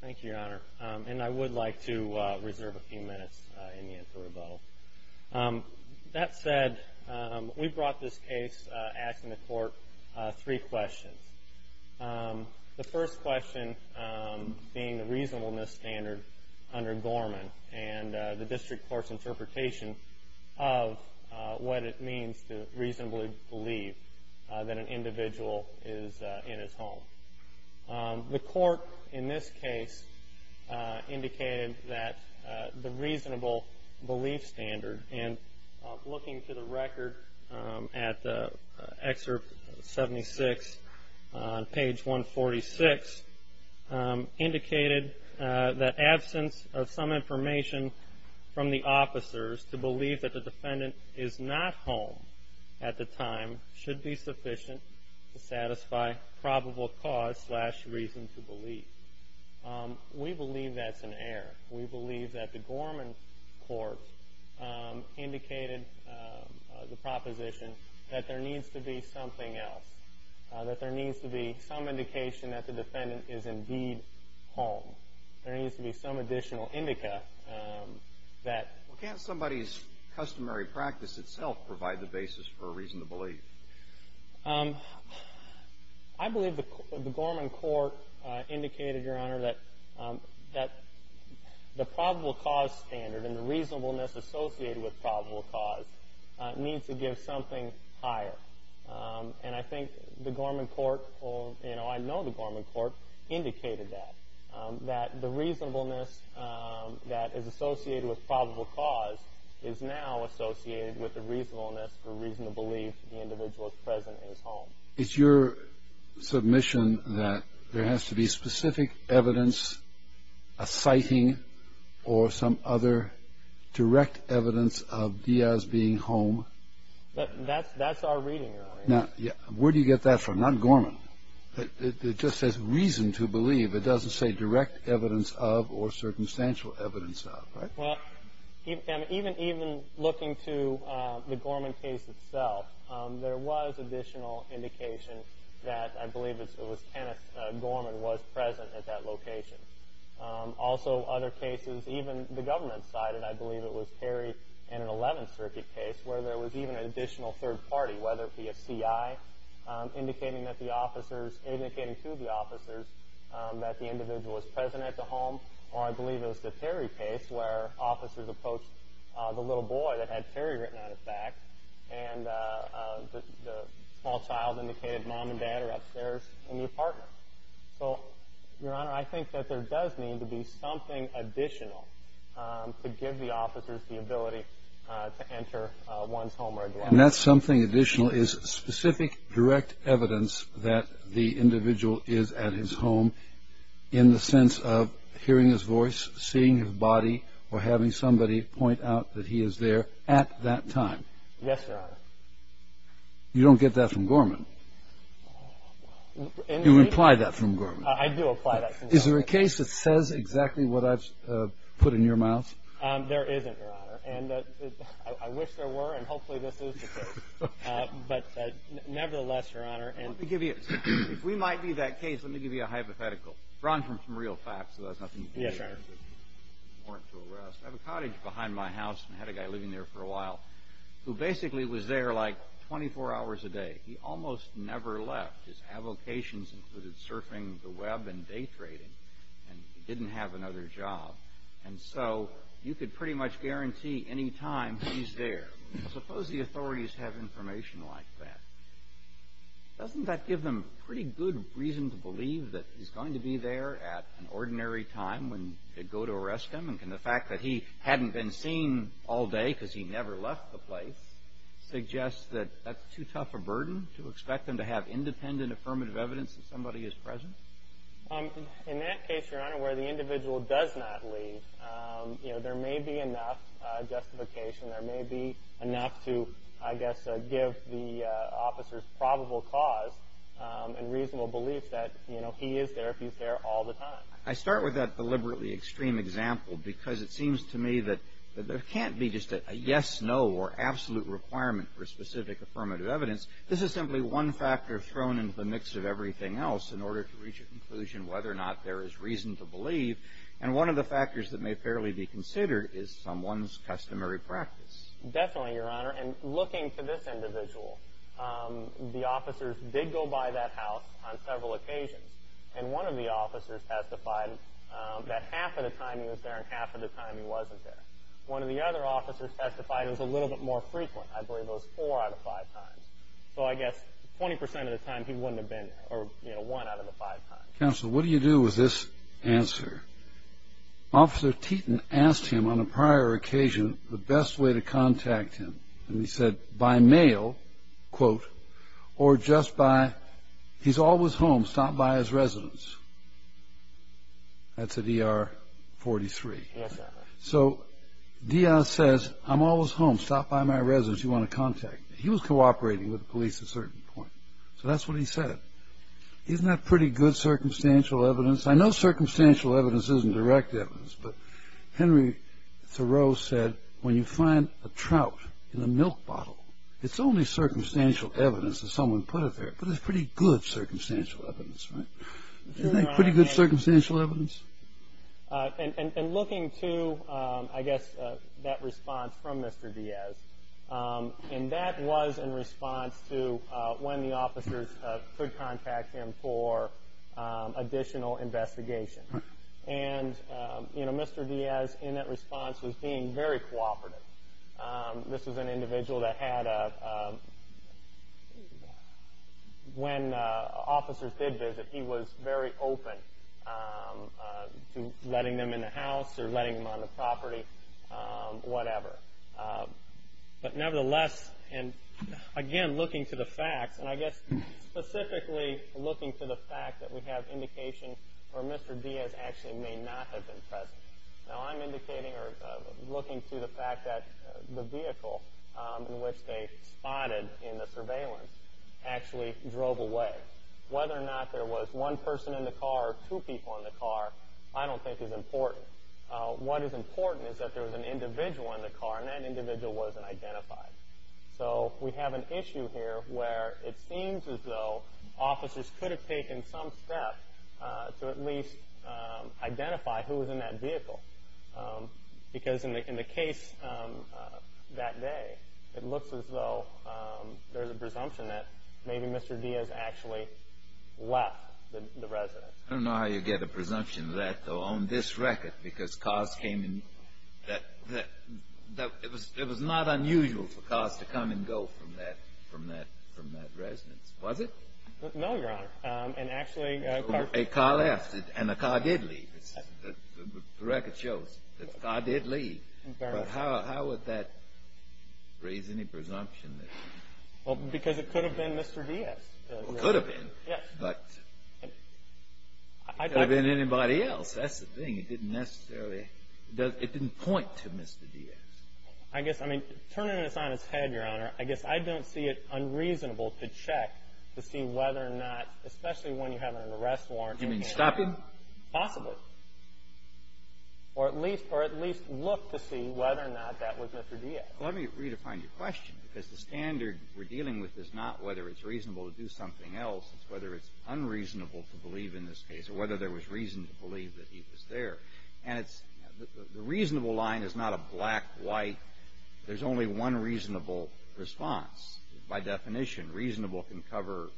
Thank you, Your Honor, and I would like to reserve a few minutes in the interest of rebuttal. That said, we brought this case asking the court three questions. The first question being the reasonableness standard under Gorman and the district court's interpretation of what it means to reasonably believe that an individual is in his home. The court in this case indicated that the reasonable belief standard, and looking to the record at excerpt 76 on page 146, indicated that absence of some information from the officers to believe that the defendant is not home at the time should be sufficient to satisfy probable cause slash reason to believe. We believe that's an error. We believe that the Gorman court indicated the proposition that there needs to be something else, that there needs to be some indication that the defendant is indeed home. There needs to be some additional indica that… Well, can't somebody's customary practice itself provide the basis for a reason to believe? I believe the Gorman court indicated, Your Honor, that the probable cause standard and the reasonableness associated with probable cause needs to give something higher. And I think the Gorman court or, you know, I know the Gorman court indicated that, that the reasonableness that is associated with probable cause is now associated with the reasonableness or reason to believe the individual is present in his home. It's your submission that there has to be specific evidence, a sighting, or some other direct evidence of Diaz being home? That's our reading, Your Honor. Now, where do you get that from? Not Gorman. It just says reason to believe. It doesn't say direct evidence of or circumstantial evidence of, right? Well, even looking to the Gorman case itself, there was additional indication that I believe it was Kenneth Gorman was present at that location. Also, other cases, even the government cited, I believe it was Terry in an 11th Circuit case where there was even an additional third party, whether it be a CI indicating that the officers, indicating to the officers that the individual was present at the home, or I believe it was the Terry case where officers approached the little boy that had Terry written on his back and the small child indicated mom and dad are upstairs in the apartment. So, Your Honor, I think that there does need to be something additional to give the officers the ability to enter one's home or address. And that something additional is specific direct evidence that the individual is at his home in the sense of hearing his voice, seeing his body, or having somebody point out that he is there at that time. Yes, Your Honor. You don't get that from Gorman. You imply that from Gorman. I do imply that from Gorman. Is there a case that says exactly what I've put in your mouth? There isn't, Your Honor. And I wish there were, and hopefully this is the case. But nevertheless, Your Honor. Let me give you, if we might be that case, let me give you a hypothetical. Drawing from some real facts, so that's nothing new. Yes, Your Honor. I have a cottage behind my house and I had a guy living there for a while who basically was there like 24 hours a day. He almost never left. His avocations included surfing the web and day trading, and he didn't have another job. And so you could pretty much guarantee any time he's there. Suppose the authorities have information like that. Doesn't that give them pretty good reason to believe that he's going to be there at an ordinary time when they go to arrest him? And can the fact that he hadn't been seen all day because he never left the place suggest that that's too tough a burden to expect them to have independent affirmative evidence that somebody is present? In that case, Your Honor, where the individual does not leave, there may be enough justification. There may be enough to, I guess, give the officer's probable cause and reasonable belief that he is there if he's there all the time. I start with that deliberately extreme example because it seems to me that there can't be just a yes, no, or absolute requirement for specific affirmative evidence. This is simply one factor thrown into the mix of everything else in order to reach a conclusion whether or not there is reason to believe. And one of the factors that may fairly be considered is someone's customary practice. Definitely, Your Honor. And looking for this individual, the officers did go by that house on several occasions, and one of the officers testified that half of the time he was there and half of the time he wasn't there. One of the other officers testified it was a little bit more frequent. I believe it was four out of five times. So I guess 20% of the time he wouldn't have been there, or one out of the five times. Counsel, what do you do with this answer? Officer Teton asked him on a prior occasion the best way to contact him, and he said by mail, quote, or just by, he's always home. Stop by his residence. That's a D.R. 43. So D.R. says, I'm always home. Stop by my residence. You want to contact me. He was cooperating with the police at a certain point, so that's what he said. Isn't that pretty good circumstantial evidence? I know circumstantial evidence isn't direct evidence, but Henry Thoreau said when you find a trout in a milk bottle, it's only circumstantial evidence that someone put it there, but that's pretty good circumstantial evidence, right? Isn't that pretty good circumstantial evidence? And looking to, I guess, that response from Mr. Diaz, and that was in response to when the officers could contact him for additional investigation. And, you know, Mr. Diaz in that response was being very cooperative. This was an individual that had a, when officers did visit, he was very open to letting them in the house or letting them on the property, whatever. But nevertheless, and, again, looking to the facts, and I guess specifically looking to the fact that we have indication where Mr. Diaz actually may not have been present. Now, I'm indicating or looking to the fact that the vehicle in which they spotted in the surveillance actually drove away. Whether or not there was one person in the car or two people in the car, I don't think is important. What is important is that there was an individual in the car, and that individual wasn't identified. So we have an issue here where it seems as though officers could have taken some steps to at least identify who was in that vehicle. Because in the case that day, it looks as though there's a presumption that maybe Mr. Diaz actually left the residence. I don't know how you get a presumption of that, though, on this record, because cars came in. It was not unusual for cars to come and go from that residence, was it? No, Your Honor. A car left, and a car did leave. The record shows that a car did leave. But how would that raise any presumption? Because it could have been Mr. Diaz. It could have been, but it could have been anybody else. That's the thing. It didn't necessarily point to Mr. Diaz. Turning this on its head, Your Honor, I guess I don't see it unreasonable to check to see whether or not, especially when you have an arrest warrant. You mean stop him? Possibly. Or at least look to see whether or not that was Mr. Diaz. Let me redefine your question, because the standard we're dealing with is not whether it's reasonable to do something else. It's whether it's unreasonable to believe in this case or whether there was reason to believe that he was there. And the reasonable line is not a black-white. There's only one reasonable response. By definition, reasonable can cover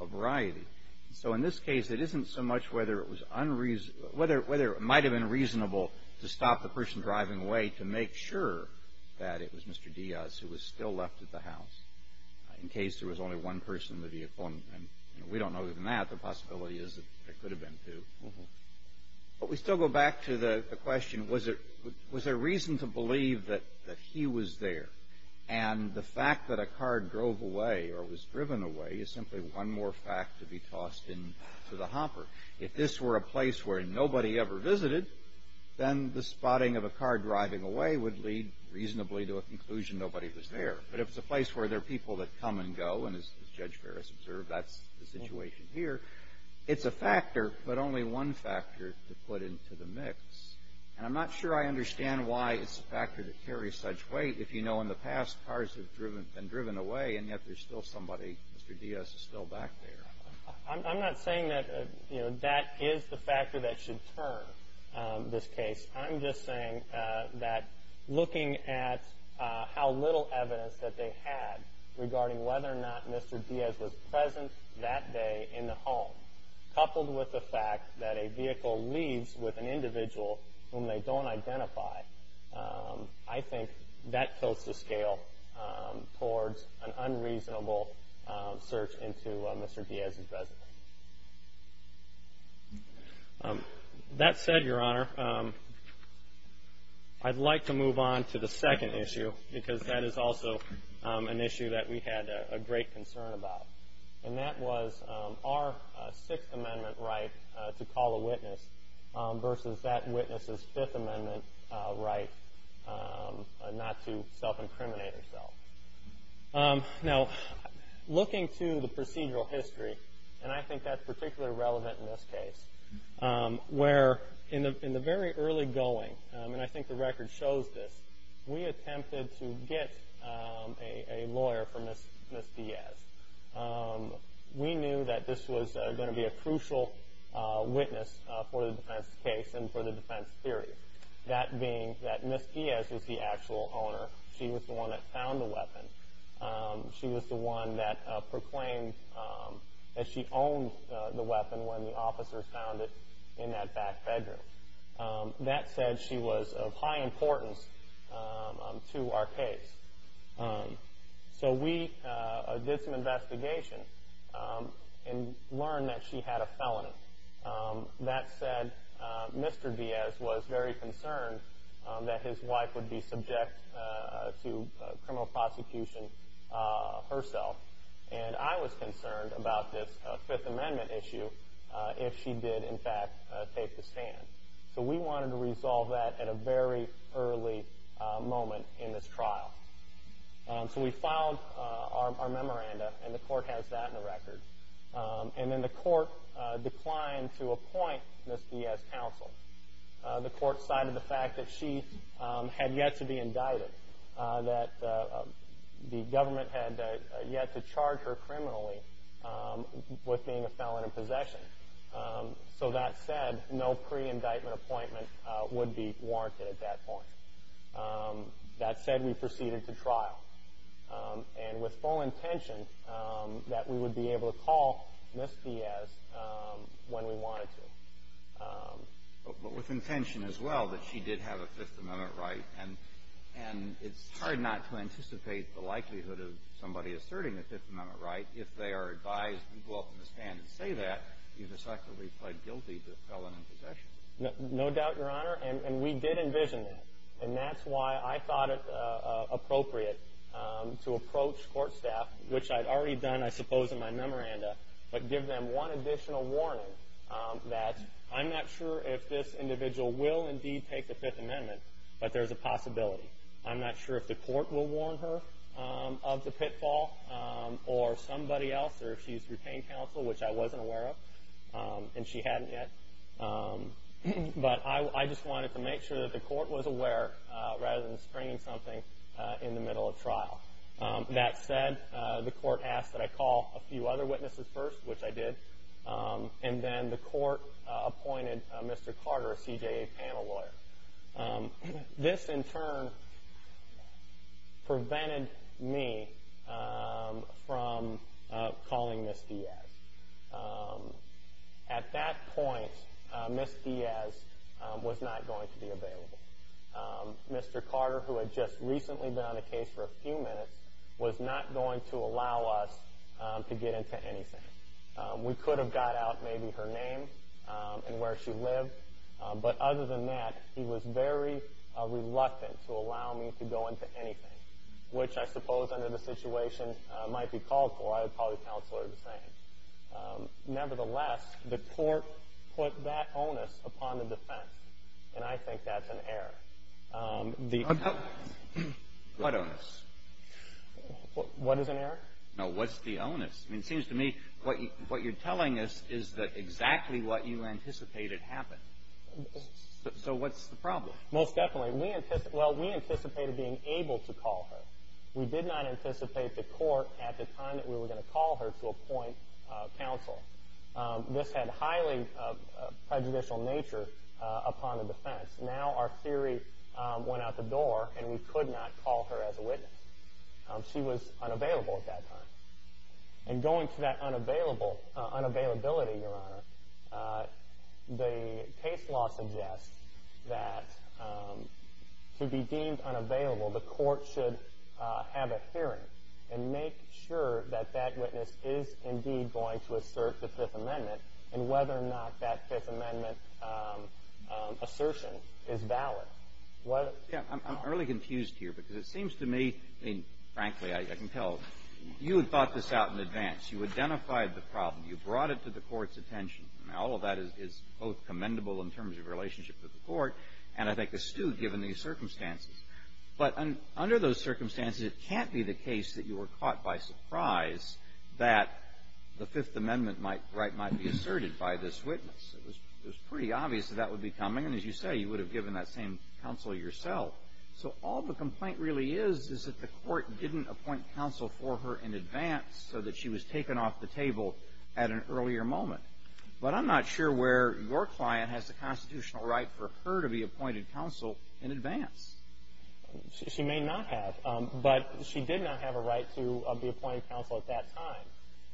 a variety. So in this case, it isn't so much whether it might have been reasonable to stop the person driving away to make sure that it was Mr. Diaz who was still left at the house, in case there was only one person in the vehicle. We don't know even that. The possibility is that there could have been two. But we still go back to the question, was there reason to believe that he was there? And the fact that a car drove away or was driven away is simply one more fact to be tossed into the hopper. If this were a place where nobody ever visited, then the spotting of a car driving away would lead reasonably to a conclusion nobody was there. But if it's a place where there are people that come and go, and as Judge Ferris observed, that's the situation here, it's a factor, but only one factor to put into the mix. And I'm not sure I understand why it's a factor that carries such weight. If you know in the past, cars have been driven away, and yet there's still somebody, Mr. Diaz is still back there. I'm not saying that that is the factor that should turn this case. I'm just saying that looking at how little evidence that they had regarding whether or not Mr. Diaz was present that day in the home, coupled with the fact that a vehicle leaves with an individual whom they don't identify, I think that goes to scale towards an unreasonable search into Mr. Diaz's residence. That said, Your Honor, I'd like to move on to the second issue, because that is also an issue that we had a great concern about. And that was our Sixth Amendment right to call a witness versus that witness's Fifth Amendment right not to self-incriminate himself. Now, looking to the procedural history, and I think that's particularly relevant in this case, where in the very early going, and I think the record shows this, we attempted to get a lawyer for Ms. Diaz. We knew that this was going to be a crucial witness for the defense case and for the defense theory, that being that Ms. Diaz was the actual owner. She was the one that found the weapon. She was the one that proclaimed that she owned the weapon when the officers found it in that back bedroom. That said, she was of high importance to our case. So we did some investigation and learned that she had a felon. That said, Mr. Diaz was very concerned that his wife would be subject to criminal prosecution herself. And I was concerned about this Fifth Amendment issue if she did, in fact, take the stand. So we wanted to resolve that at a very early moment in this trial. So we filed our memoranda, and the court has that in the record. And then the court declined to appoint Ms. Diaz counsel. The court cited the fact that she had yet to be indicted, that the government had yet to charge her criminally with being a felon in possession. So that said, no pre-indictment appointment would be warranted at that point. And with full intention that we would be able to call Ms. Diaz when we wanted to. But with intention as well that she did have a Fifth Amendment right. And it's hard not to anticipate the likelihood of somebody asserting a Fifth Amendment right if they are advised to go up in the stand and say that you've effectively pled guilty to felon in possession. No doubt, Your Honor. And we did envision that. And that's why I thought it appropriate to approach court staff, which I'd already done, I suppose, in my memoranda, but give them one additional warning that I'm not sure if this individual will indeed take the Fifth Amendment, but there's a possibility. I'm not sure if the court will warn her of the pitfall or somebody else, or if she's retained counsel, which I wasn't aware of, and she hadn't yet. But I just wanted to make sure that the court was aware rather than springing something in the middle of trial. That said, the court asked that I call a few other witnesses first, which I did. And then the court appointed Mr. Carter, a CJA panel lawyer. This, in turn, prevented me from calling Ms. Diaz. At that point, Ms. Diaz was not going to be available. Mr. Carter, who had just recently been on the case for a few minutes, was not going to allow us to get into anything. We could have got out maybe her name and where she lived. But other than that, he was very reluctant to allow me to go into anything, which I suppose under the situation might be called for. I would probably counsel her the same. Nevertheless, the court put that onus upon the defense, and I think that's an error. What onus? What is an error? No, what's the onus? I mean, it seems to me what you're telling us is exactly what you anticipated happened. So what's the problem? Most definitely. Well, we anticipated being able to call her. We did not anticipate the court at the time that we were going to call her to appoint counsel. This had highly prejudicial nature upon the defense. Now our theory went out the door, and we could not call her as a witness. She was unavailable at that time. And going to that unavailability, Your Honor, the case law suggests that to be deemed unavailable, the court should have a hearing and make sure that that witness is indeed going to assert the Fifth Amendment and whether or not that Fifth Amendment assertion is valid. Yeah. I'm really confused here because it seems to me, I mean, frankly, I can tell you had thought this out in advance. You identified the problem. You brought it to the court's attention. Now, all of that is both commendable in terms of relationship with the court and, I think, astute given these circumstances. But under those circumstances, it can't be the case that you were caught by surprise that the Fifth Amendment might be asserted by this witness. It was pretty obvious that that would be coming. And as you say, you would have given that same counsel yourself. So all the complaint really is is that the court didn't appoint counsel for her in advance so that she was taken off the table at an earlier moment. But I'm not sure where your client has the constitutional right for her to be appointed counsel in advance. She may not have. But she did not have a right to be appointed counsel at that time.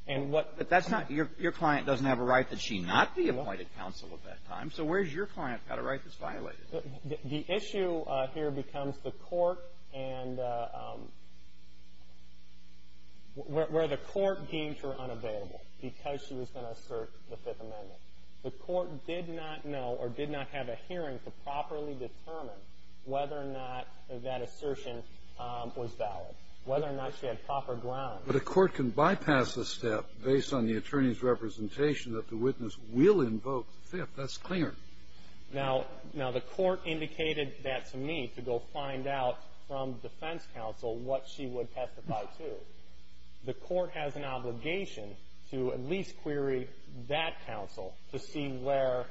And what – But that's not – your client doesn't have a right that she not be appointed counsel at that time. So where's your client got a right that's violated? The issue here becomes the court and – where the court deemed her unavailable because she was going to assert the Fifth Amendment. The court did not know or did not have a hearing to properly determine whether or not that assertion was valid, whether or not she had proper grounds. But a court can bypass a step based on the attorney's representation that the witness will invoke the Fifth. That's clear. Now, the court indicated that to me to go find out from defense counsel what she would testify to. The court has an obligation to at least query that counsel to see where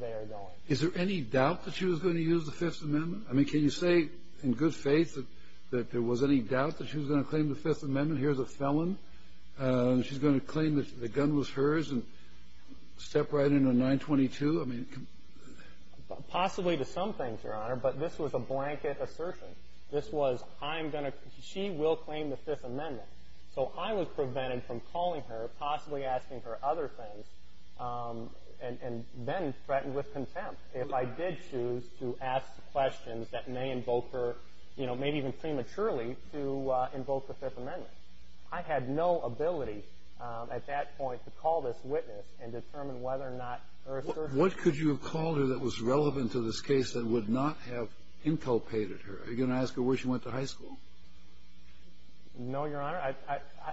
they are going. Is there any doubt that she was going to use the Fifth Amendment? I mean, can you say in good faith that there was any doubt that she was going to claim the Fifth Amendment? Here's a felon. She's going to claim that the gun was hers and step right into 922? I mean – Possibly to some things, Your Honor, but this was a blanket assertion. This was, I'm going to – she will claim the Fifth Amendment. So I was prevented from calling her, possibly asking her other things, and then threatened with contempt if I did choose to ask questions that may invoke her, you know, maybe even prematurely to invoke the Fifth Amendment. I had no ability at that point to call this witness and determine whether or not her assertion – What could you have called her that was relevant to this case that would not have inculpated her? Are you going to ask her where she went to high school? No, Your Honor.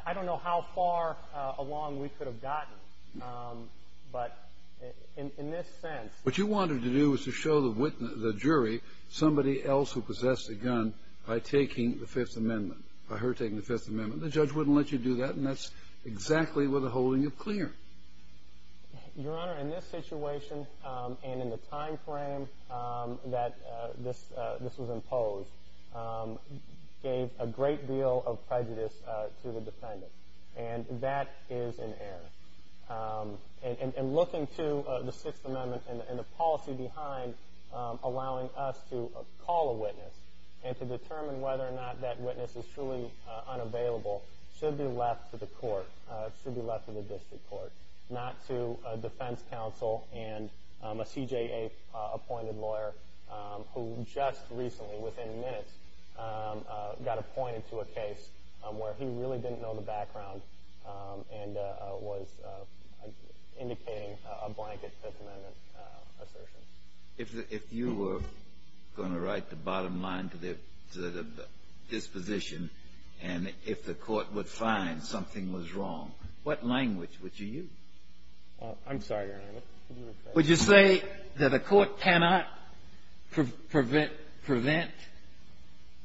I don't know how far along we could have gotten, but in this sense – What you wanted to do was to show the jury somebody else who possessed a gun by taking the Fifth Amendment, by her taking the Fifth Amendment. The judge wouldn't let you do that, and that's exactly what they're holding you clear. Your Honor, in this situation and in the timeframe that this was imposed, gave a great deal of prejudice to the defendant, and that is in error. And looking to the Sixth Amendment and the policy behind allowing us to call a witness and to determine whether or not that witness is truly unavailable should be left to the court, should be left to the district court, not to a defense counsel and a CJA-appointed lawyer who just recently, within minutes, got appointed to a case where he really didn't know the background and was indicating a blanket Fifth Amendment assertion. If you were going to write the bottom line to the disposition and if the court would find something was wrong, what language would you use? I'm sorry, Your Honor. Would you say that a court cannot prevent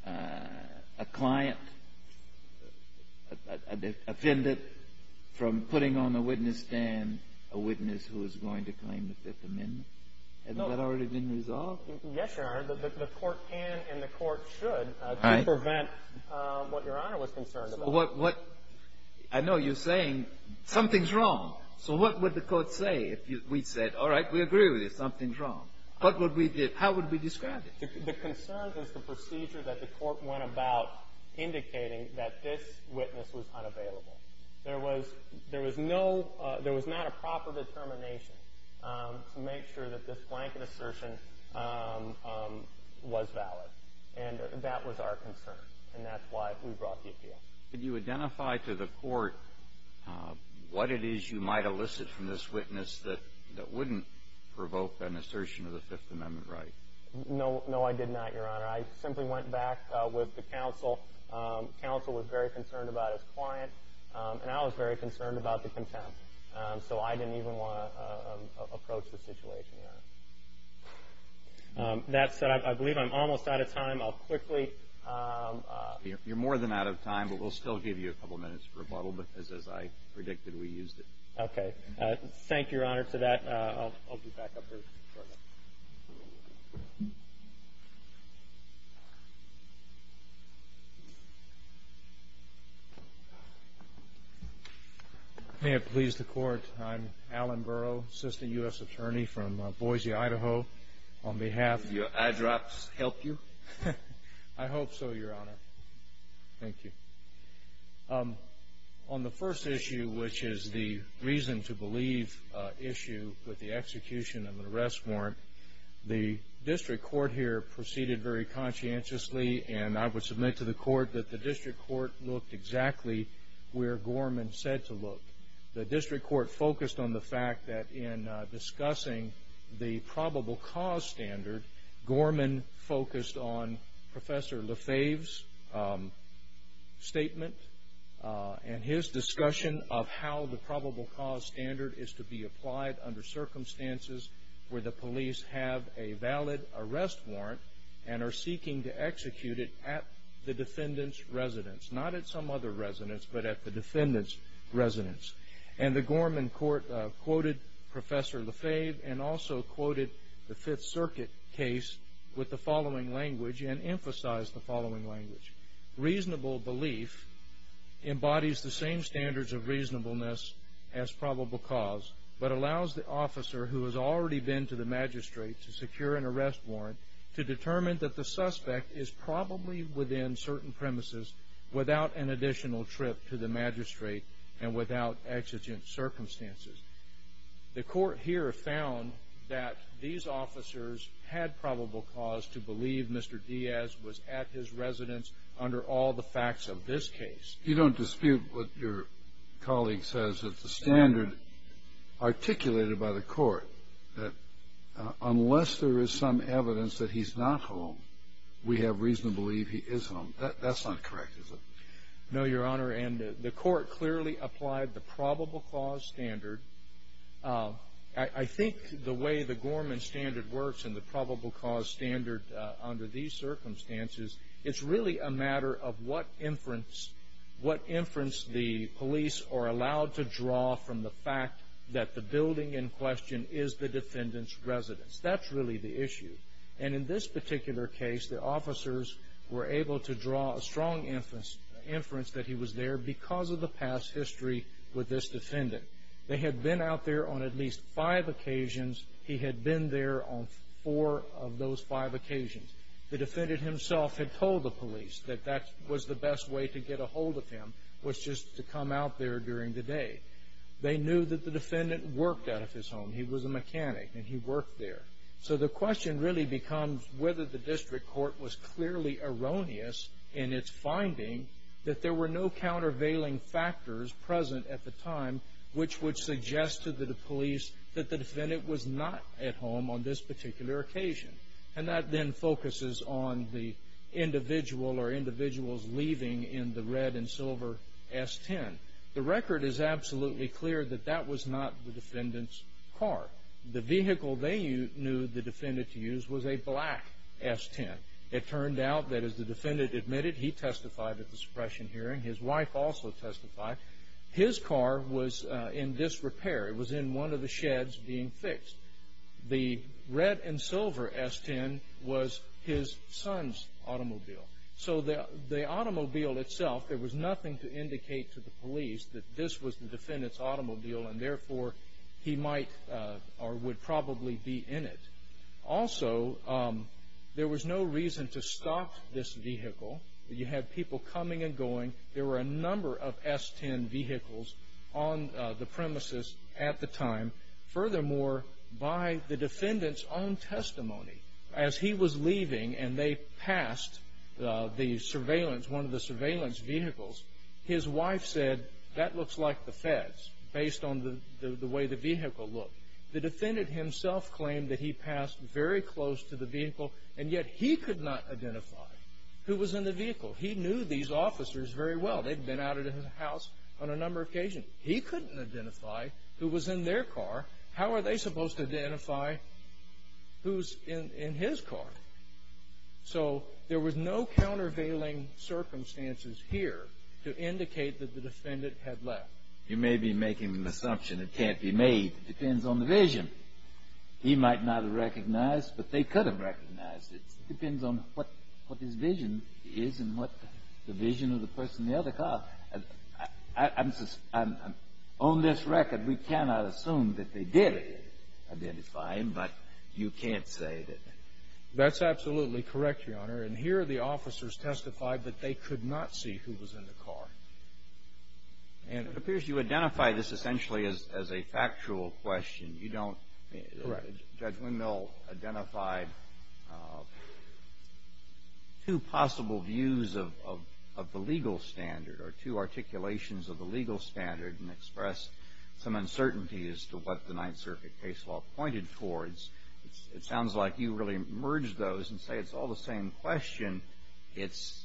a client, a defendant, from putting on the witness stand a witness who is going to claim the Fifth Amendment? Has that already been resolved? Yes, Your Honor. The court can and the court should to prevent what Your Honor was concerned about. I know you're saying something's wrong. So what would the court say if we said, all right, we agree with you, something's wrong? What would we do? How would we describe it? The concern is the procedure that the court went about indicating that this witness was unavailable. There was no – there was not a proper determination to make sure that this blanket assertion was valid, and that was our concern, and that's why we brought the appeal. Could you identify to the court what it is you might elicit from this witness that wouldn't provoke an assertion of the Fifth Amendment right? No, I did not, Your Honor. I simply went back with the counsel. The counsel was very concerned about his client, and I was very concerned about the contempt. So I didn't even want to approach the situation, Your Honor. That said, I believe I'm almost out of time. I'll quickly – You're more than out of time, but we'll still give you a couple minutes for rebuttal because, as I predicted, we used it. Okay. Thank you, Your Honor, for that. I'll be back up here shortly. May it please the Court, I'm Alan Burrow, Assistant U.S. Attorney from Boise, Idaho, on behalf of – Did your eyedrops help you? I hope so, Your Honor. Thank you. On the first issue, which is the reason to believe issue with the execution of an arrest warrant, the district court here proceeded very conscientiously, and I would submit to the court that the district court looked exactly where Gorman said to look. The district court focused on the fact that in discussing the probable cause standard, Gorman focused on Professor Lefebvre's statement and his discussion of how the probable cause standard is to be applied under circumstances where the police have a valid arrest warrant and are seeking to execute it at the defendant's residence, not at some other residence, but at the defendant's residence. And the Gorman court quoted Professor Lefebvre and also quoted the Fifth Circuit case with the following language and emphasized the following language. Reasonable belief embodies the same standards of reasonableness as probable cause, but allows the officer who has already been to the magistrate to secure an arrest warrant to determine that the suspect is probably within certain premises without an additional trip to the magistrate and without exigent circumstances. The court here found that these officers had probable cause to believe Mr. Diaz was at his residence under all the facts of this case. You don't dispute what your colleague says. It's a standard articulated by the court that unless there is some evidence that he's not home, we have reason to believe he is home. That's not correct, is it? No, Your Honor, and the court clearly applied the probable cause standard. I think the way the Gorman standard works and the probable cause standard under these circumstances, it's really a matter of what inference the police are allowed to draw from the fact that the building in question is the defendant's residence. That's really the issue. In this particular case, the officers were able to draw a strong inference that he was there because of the past history with this defendant. They had been out there on at least five occasions. He had been there on four of those five occasions. The defendant himself had told the police that that was the best way to get a hold of him, was just to come out there during the day. They knew that the defendant worked out of his home. He was a mechanic, and he worked there. So the question really becomes whether the district court was clearly erroneous in its finding that there were no countervailing factors present at the time which would suggest to the police that the defendant was not at home on this particular occasion. And that then focuses on the individual or individuals leaving in the red and silver S-10. The record is absolutely clear that that was not the defendant's car. The vehicle they knew the defendant to use was a black S-10. It turned out that, as the defendant admitted, he testified at the suppression hearing. His wife also testified. His car was in disrepair. It was in one of the sheds being fixed. The red and silver S-10 was his son's automobile. This was the defendant's automobile, and therefore he might or would probably be in it. Also, there was no reason to stop this vehicle. You had people coming and going. There were a number of S-10 vehicles on the premises at the time. Furthermore, by the defendant's own testimony, as he was leaving and they passed the surveillance, one of the surveillance vehicles, his wife said, that looks like the feds, based on the way the vehicle looked. The defendant himself claimed that he passed very close to the vehicle, and yet he could not identify who was in the vehicle. He knew these officers very well. They'd been out of the house on a number of occasions. He couldn't identify who was in their car. How are they supposed to identify who's in his car? So there was no countervailing circumstances here to indicate that the defendant had left. You may be making an assumption it can't be made. It depends on the vision. He might not have recognized, but they could have recognized it. It depends on what his vision is and what the vision of the person in the other car. On this record, we cannot assume that they did identify him, but you can't say that. That's absolutely correct, Your Honor, and here the officers testified that they could not see who was in the car. It appears you identify this essentially as a factual question. Judge Windmill identified two possible views of the legal standard or two articulations of the legal standard and expressed some uncertainty as to what the Ninth Circuit case law pointed towards. It sounds like you really merged those and say it's all the same question. It's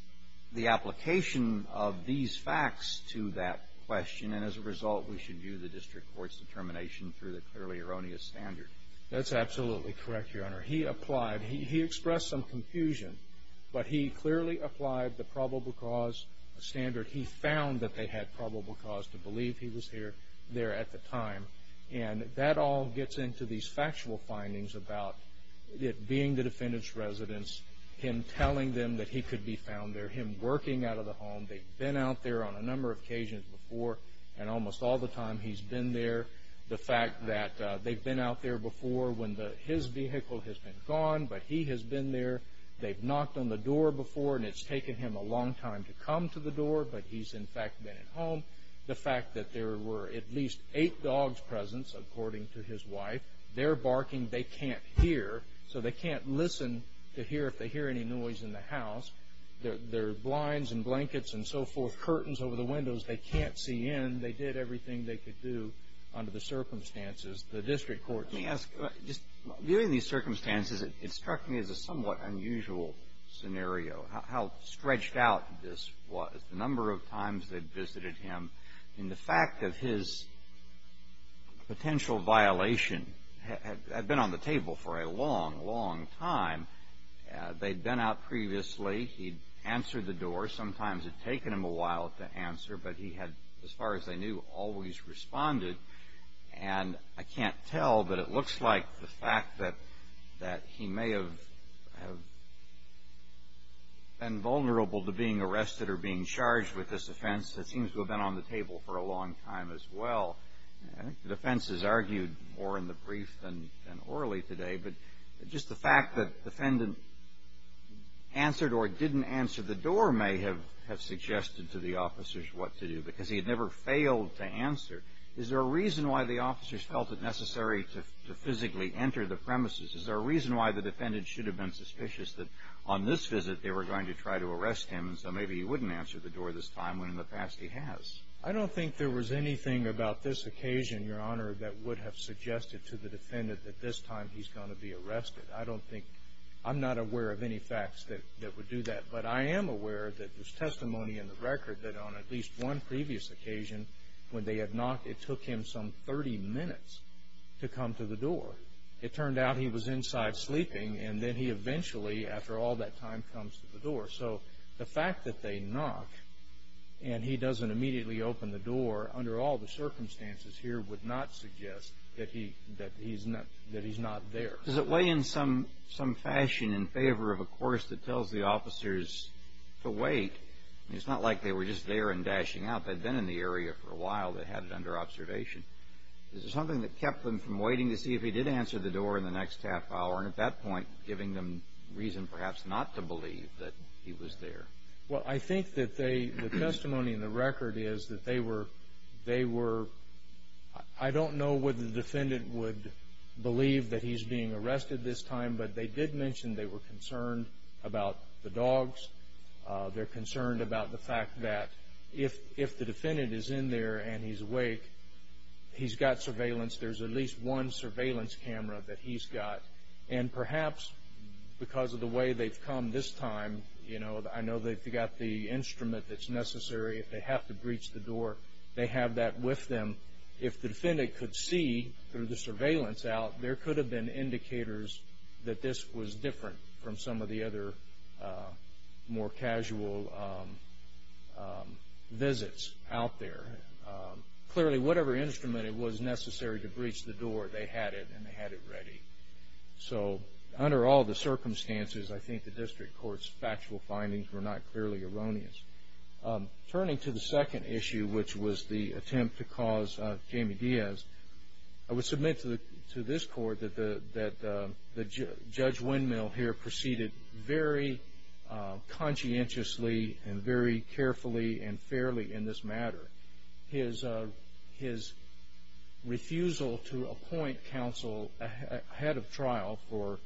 the application of these facts to that question, and as a result we should view the district court's determination through the clearly erroneous standard. That's absolutely correct, Your Honor. He expressed some confusion, but he clearly applied the probable cause standard. He found that they had probable cause to believe he was there at the time, and that all gets into these factual findings about it being the defendant's residence, him telling them that he could be found there, him working out of the home. They've been out there on a number of occasions before, and almost all the time he's been there. The fact that they've been out there before when his vehicle has been gone, but he has been there. They've knocked on the door before, and it's taken him a long time to come to the door, but he's in fact been at home. The fact that there were at least eight dogs present, according to his wife. They're barking. They can't hear, so they can't listen to hear if they hear any noise in the house. There are blinds and blankets and so forth, curtains over the windows. They can't see in. They did everything they could do under the circumstances. The district court's- Let me ask, just viewing these circumstances, it struck me as a somewhat unusual scenario, how stretched out this was. The number of times they'd visited him, and the fact that his potential violation had been on the table for a long, long time. They'd been out previously. He'd answered the door. Sometimes it'd taken him a while to answer, but he had, as far as I knew, always responded. And I can't tell, but it looks like the fact that he may have been vulnerable to being arrested or being charged with this offense, it seems to have been on the table for a long time as well. I think the defense has argued more in the brief than orally today, but just the fact that the defendant answered or didn't answer the door may have suggested to the officers what to do, because he had never failed to answer. Is there a reason why the officers felt it necessary to physically enter the premises? Is there a reason why the defendant should have been suspicious that on this visit, they were going to try to arrest him, so maybe he wouldn't answer the door this time when in the past he has? I don't think there was anything about this occasion, Your Honor, that would have suggested to the defendant that this time he's going to be arrested. I don't think, I'm not aware of any facts that would do that, but I am aware that there's testimony in the record that on at least one previous occasion, when they had knocked, it took him some 30 minutes to come to the door. It turned out he was inside sleeping, and then he eventually, after all that time, comes to the door. So the fact that they knock and he doesn't immediately open the door under all the circumstances here would not suggest that he's not there. Does it weigh in some fashion in favor of a course that tells the officers to wait? It's not like they were just there and dashing out. They'd been in the area for a while. They had it under observation. Is there something that kept them from waiting to see if he did answer the door in the next half hour and at that point giving them reason perhaps not to believe that he was there? Well, I think that the testimony in the record is that they were, they were, I don't know whether the defendant would believe that he's being arrested this time, but they did mention they were concerned about the dogs. They're concerned about the fact that if the defendant is in there and he's awake, he's got surveillance. There's at least one surveillance camera that he's got, and perhaps because of the way they've come this time, I know they've got the instrument that's necessary. If they have to breach the door, they have that with them. If the defendant could see through the surveillance out, there could have been indicators that this was different from some of the other more casual visits out there. Clearly, whatever instrument it was necessary to breach the door, they had it, and they had it ready. So under all the circumstances, I think the district court's factual findings were not clearly erroneous. Turning to the second issue, which was the attempt to cause Jamie Diaz, I would submit to this court that Judge Windmill here proceeded very conscientiously and very carefully and fairly in this matter. His refusal to appoint counsel ahead of trial for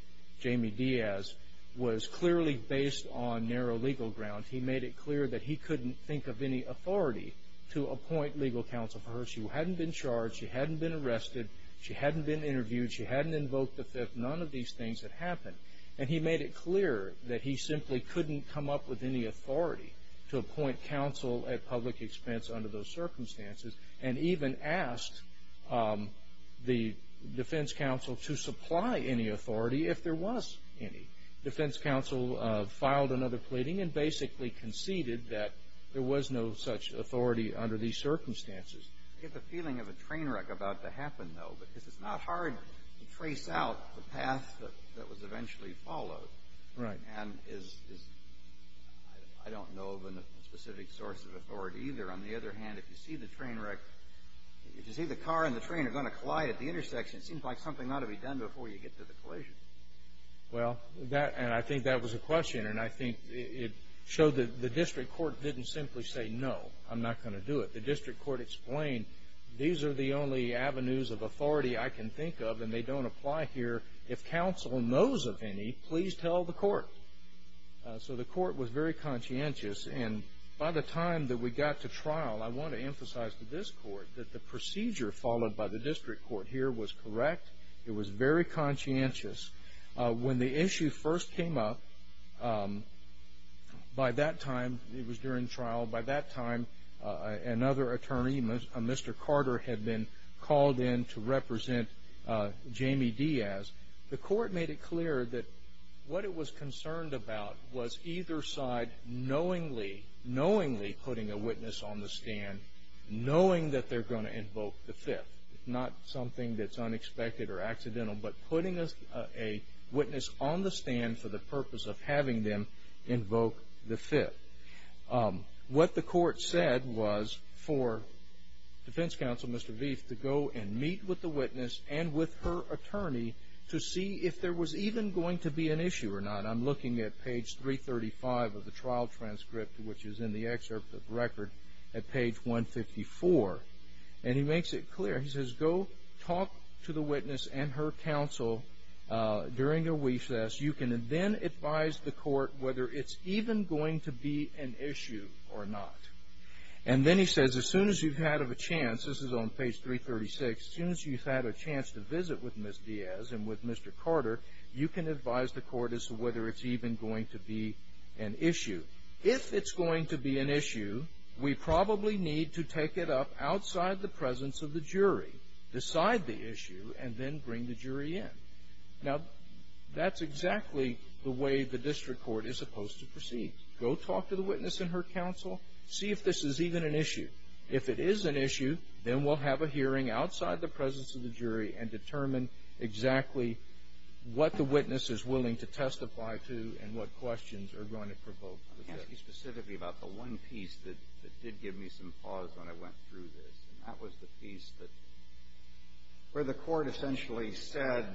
Jamie Diaz was clearly based on narrow legal ground. He made it clear that he couldn't think of any authority to appoint legal counsel for her. She hadn't been charged. She hadn't been arrested. She hadn't been interviewed. She hadn't invoked the fifth. None of these things had happened, and he made it clear that he simply couldn't come up with any authority to appoint counsel at public expense under those circumstances, and even asked the defense counsel to supply any authority if there was any. The defense counsel filed another pleading and basically conceded that there was no such authority under these circumstances. I get the feeling of a train wreck about to happen, though, because it's not hard to trace out the path that was eventually followed. Right. And I don't know of a specific source of authority either. On the other hand, if you see the train wreck, if you see the car and the train are going to collide at the intersection, it seems like something ought to be done before you get to the collision. Well, and I think that was a question, and I think it showed that the district court didn't simply say, no, I'm not going to do it. The district court explained, these are the only avenues of authority I can think of, and they don't apply here. If counsel knows of any, please tell the court. So the court was very conscientious, and by the time that we got to trial, I want to emphasize to this court that the procedure followed by the district court here was correct. It was very conscientious. When the issue first came up, by that time, it was during trial, by that time another attorney, Mr. Carter, had been called in to represent Jamie Diaz. The court made it clear that what it was concerned about was either side knowingly, knowingly putting a witness on the stand, knowing that they're going to invoke the Fifth. It's not something that's unexpected or accidental, but putting a witness on the stand for the purpose of having them invoke the Fifth. What the court said was for defense counsel, Mr. Veith, to go and meet with the witness and with her attorney to see if there was even going to be an issue or not. I'm looking at page 335 of the trial transcript, which is in the excerpt of the record at page 154, and he makes it clear. He says, go talk to the witness and her counsel during a recess. You can then advise the court whether it's even going to be an issue or not. And then he says, as soon as you've had a chance, this is on page 336, as soon as you've had a chance to visit with Ms. Diaz and with Mr. Carter, you can advise the court as to whether it's even going to be an issue. If it's going to be an issue, we probably need to take it up outside the presence of the jury, decide the issue, and then bring the jury in. Now, that's exactly the way the district court is supposed to proceed. Go talk to the witness and her counsel. See if this is even an issue. If it is an issue, then we'll have a hearing outside the presence of the jury and determine exactly what the witness is willing to testify to and what questions are going to provoke the judge. Let me ask you specifically about the one piece that did give me some pause when I went through this, and that was the piece where the court essentially said,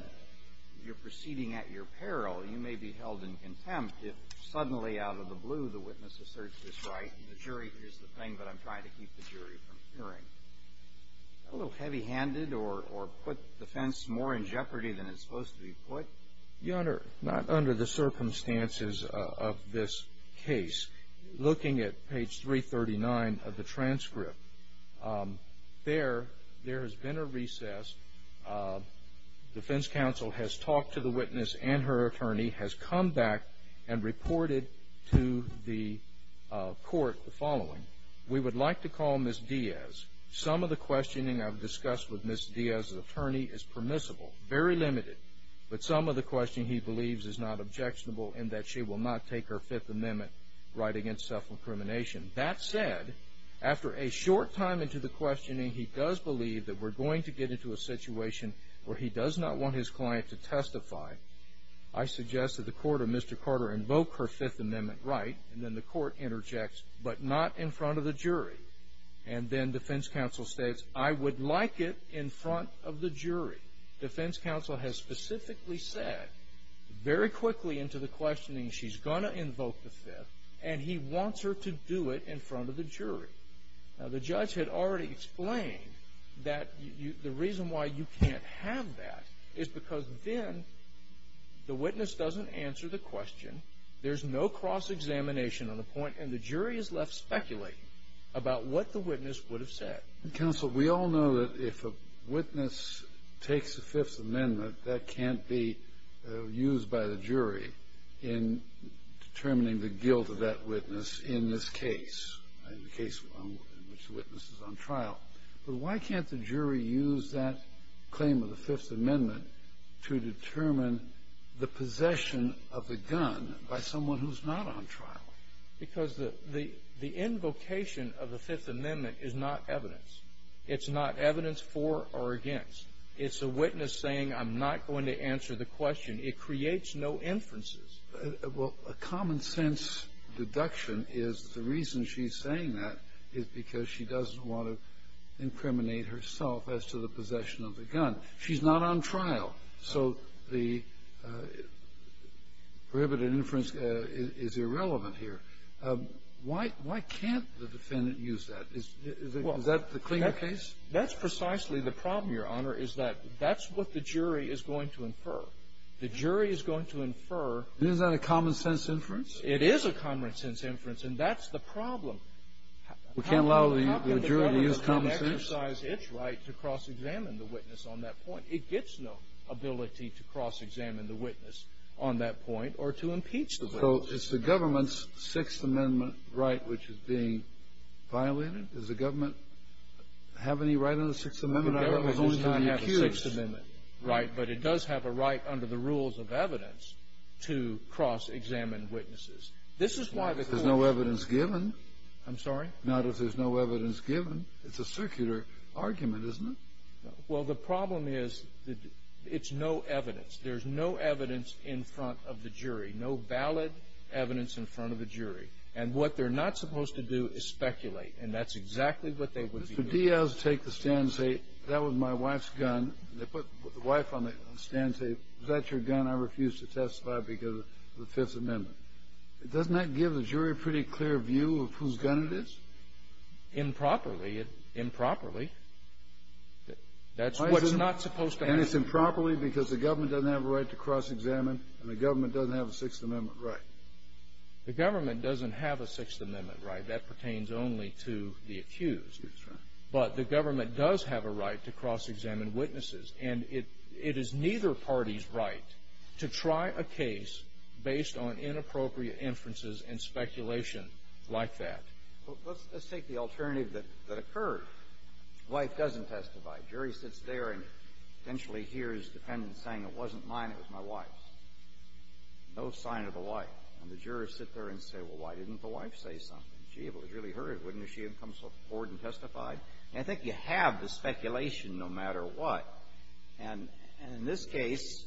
you're proceeding at your peril. You may be held in contempt if suddenly out of the blue the witness asserts this right, and the jury hears the thing, but I'm trying to keep the jury from hearing. Is that a little heavy-handed or put the defense more in jeopardy than it's supposed to be put? Your Honor, not under the circumstances of this case. Looking at page 339 of the transcript, there has been a recess. Defense counsel has talked to the witness, and her attorney has come back and reported to the court the following. We would like to call Ms. Diaz. Some of the questioning I've discussed with Ms. Diaz's attorney is permissible, very limited, but some of the questioning he believes is not objectionable in that she will not take her Fifth Amendment right against self-incrimination. That said, after a short time into the questioning, he does believe that we're going to get into a situation where he does not want his client to testify. I suggest that the court or Mr. Carter invoke her Fifth Amendment right, and then the court interjects, but not in front of the jury. And then defense counsel states, I would like it in front of the jury. Defense counsel has specifically said, very quickly into the questioning, she's going to invoke the Fifth, and he wants her to do it in front of the jury. Now, the judge had already explained that the reason why you can't have that is because then the witness doesn't answer the question. There's no cross-examination on the point, and the jury is left speculating about what the witness would have said. Counsel, we all know that if a witness takes the Fifth Amendment, that can't be used by the jury in determining the guilt of that witness in this case, in the case in which the witness is on trial. But why can't the jury use that claim of the Fifth Amendment to determine the possession of the gun by someone who's not on trial? Because the invocation of the Fifth Amendment is not evidence. It's not evidence for or against. It's a witness saying, I'm not going to answer the question. It creates no inferences. Well, a common-sense deduction is the reason she's saying that is because she doesn't want to incriminate herself as to the possession of the gun. She's not on trial. So the prohibited inference is irrelevant here. Why can't the defendant use that? Is that the cleaner case? That's precisely the problem, Your Honor, is that that's what the jury is going to infer. The jury is going to infer. Isn't that a common-sense inference? It is a common-sense inference, and that's the problem. We can't allow the jury to use common sense. to cross-examine the witness on that point. It gets no ability to cross-examine the witness on that point or to impeach the witness. So it's the government's Sixth Amendment right which is being violated? Does the government have any right under the Sixth Amendment? The government does not have a Sixth Amendment right, but it does have a right under the rules of evidence to cross-examine witnesses. There's no evidence given. I'm sorry? Not if there's no evidence given. It's a circular argument, isn't it? Well, the problem is it's no evidence. There's no evidence in front of the jury, no valid evidence in front of the jury. And what they're not supposed to do is speculate, and that's exactly what they would be doing. Mr. Diaz would take the stand and say, that was my wife's gun. They put the wife on the stand and say, is that your gun? I refuse to testify because of the Fifth Amendment. Doesn't that give the jury a pretty clear view of whose gun it is? Improperly. Improperly. That's what's not supposed to happen. And it's improperly because the government doesn't have a right to cross-examine and the government doesn't have a Sixth Amendment right? The government doesn't have a Sixth Amendment right. That pertains only to the accused. But the government does have a right to cross-examine witnesses, and it is neither party's right to try a case based on inappropriate inferences and speculation like that. Let's take the alternative that occurred. Wife doesn't testify. Jury sits there and essentially hears the defendant saying, it wasn't mine, it was my wife's. No sign of the wife. And the jurors sit there and say, well, why didn't the wife say something? She was really hurt, wouldn't she have come forward and testified? And I think you have the speculation no matter what. And in this case,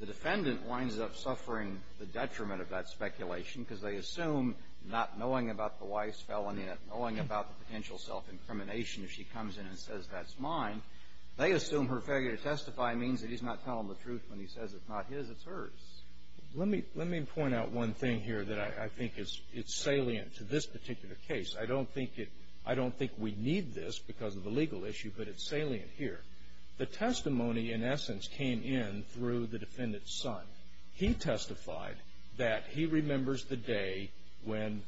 the defendant winds up suffering the detriment of that speculation because they assume not knowing about the wife's felony and not knowing about the potential self-incrimination if she comes in and says that's mine, they assume her failure to testify means that he's not telling the truth when he says it's not his, it's hers. Let me point out one thing here that I think is salient to this particular case. I don't think we need this because of the legal issue, but it's salient here. The testimony, in essence, came in through the defendant's son. He testified that he remembers the day when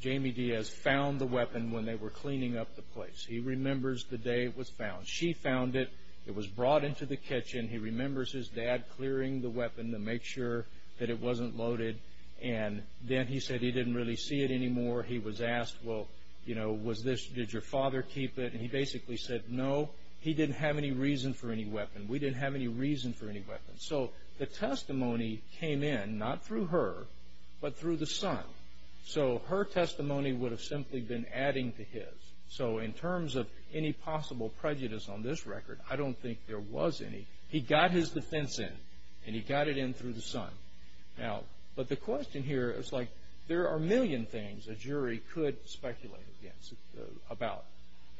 Jamie Diaz found the weapon when they were cleaning up the place. He remembers the day it was found. She found it. It was brought into the kitchen. He remembers his dad clearing the weapon to make sure that it wasn't loaded. And then he said he didn't really see it anymore. He was asked, well, did your father keep it? And he basically said, no, he didn't have any reason for any weapon. We didn't have any reason for any weapon. So the testimony came in not through her but through the son. So her testimony would have simply been adding to his. So in terms of any possible prejudice on this record, I don't think there was any. He got his defense in, and he got it in through the son. Now, but the question here is, like, there are a million things a jury could speculate about.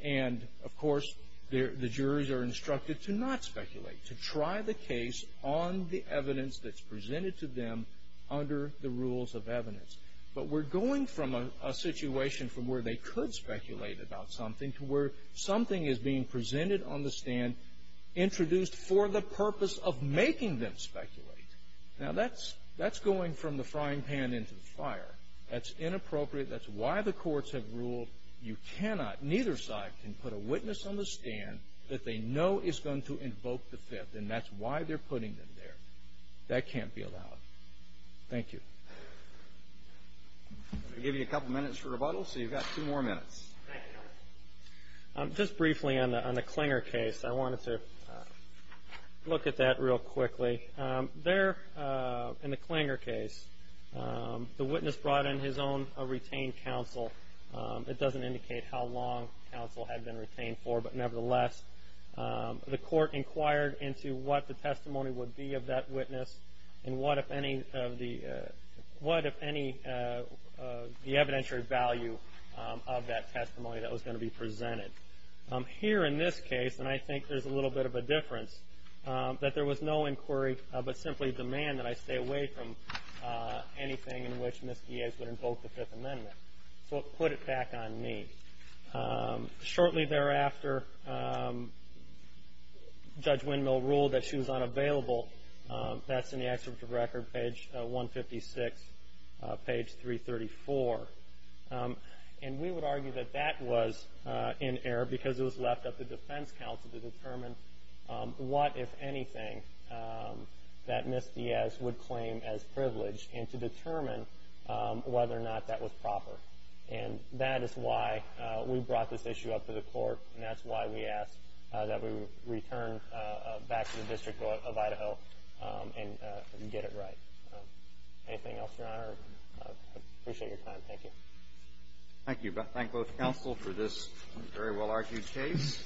And, of course, the juries are instructed to not speculate, to try the case on the evidence that's presented to them under the rules of evidence. But we're going from a situation from where they could speculate about something to where something is being presented on the stand introduced for the purpose of making them speculate. Now, that's going from the frying pan into the fire. That's inappropriate. That's why the courts have ruled you cannot, neither side can put a witness on the stand that they know is going to invoke the Fifth, and that's why they're putting them there. That can't be allowed. Thank you. I'm going to give you a couple minutes for rebuttal, so you've got two more minutes. Just briefly on the Klinger case, I wanted to look at that real quickly. There in the Klinger case, the witness brought in his own retained counsel. It doesn't indicate how long counsel had been retained for, but, nevertheless, the court inquired into what the testimony would be of that witness and what, if any, the evidentiary value of that testimony that was going to be presented. Here in this case, and I think there's a little bit of a difference, that there was no inquiry but simply demand that I stay away from anything in which Ms. Diaz would invoke the Fifth Amendment. So it put it back on me. Shortly thereafter, Judge Windmill ruled that she was unavailable. That's in the excerpt of record, page 156, page 334. We would argue that that was in error because it was left up to defense counsel to determine what, if anything, that Ms. Diaz would claim as privilege and to determine whether or not that was proper. That is why we brought this issue up to the court, and that's why we ask that we return back to the District Court of Idaho and get it right. Anything else, Your Honor? I appreciate your time. Thank you. Thank you. Thank both counsel for this very well-argued case.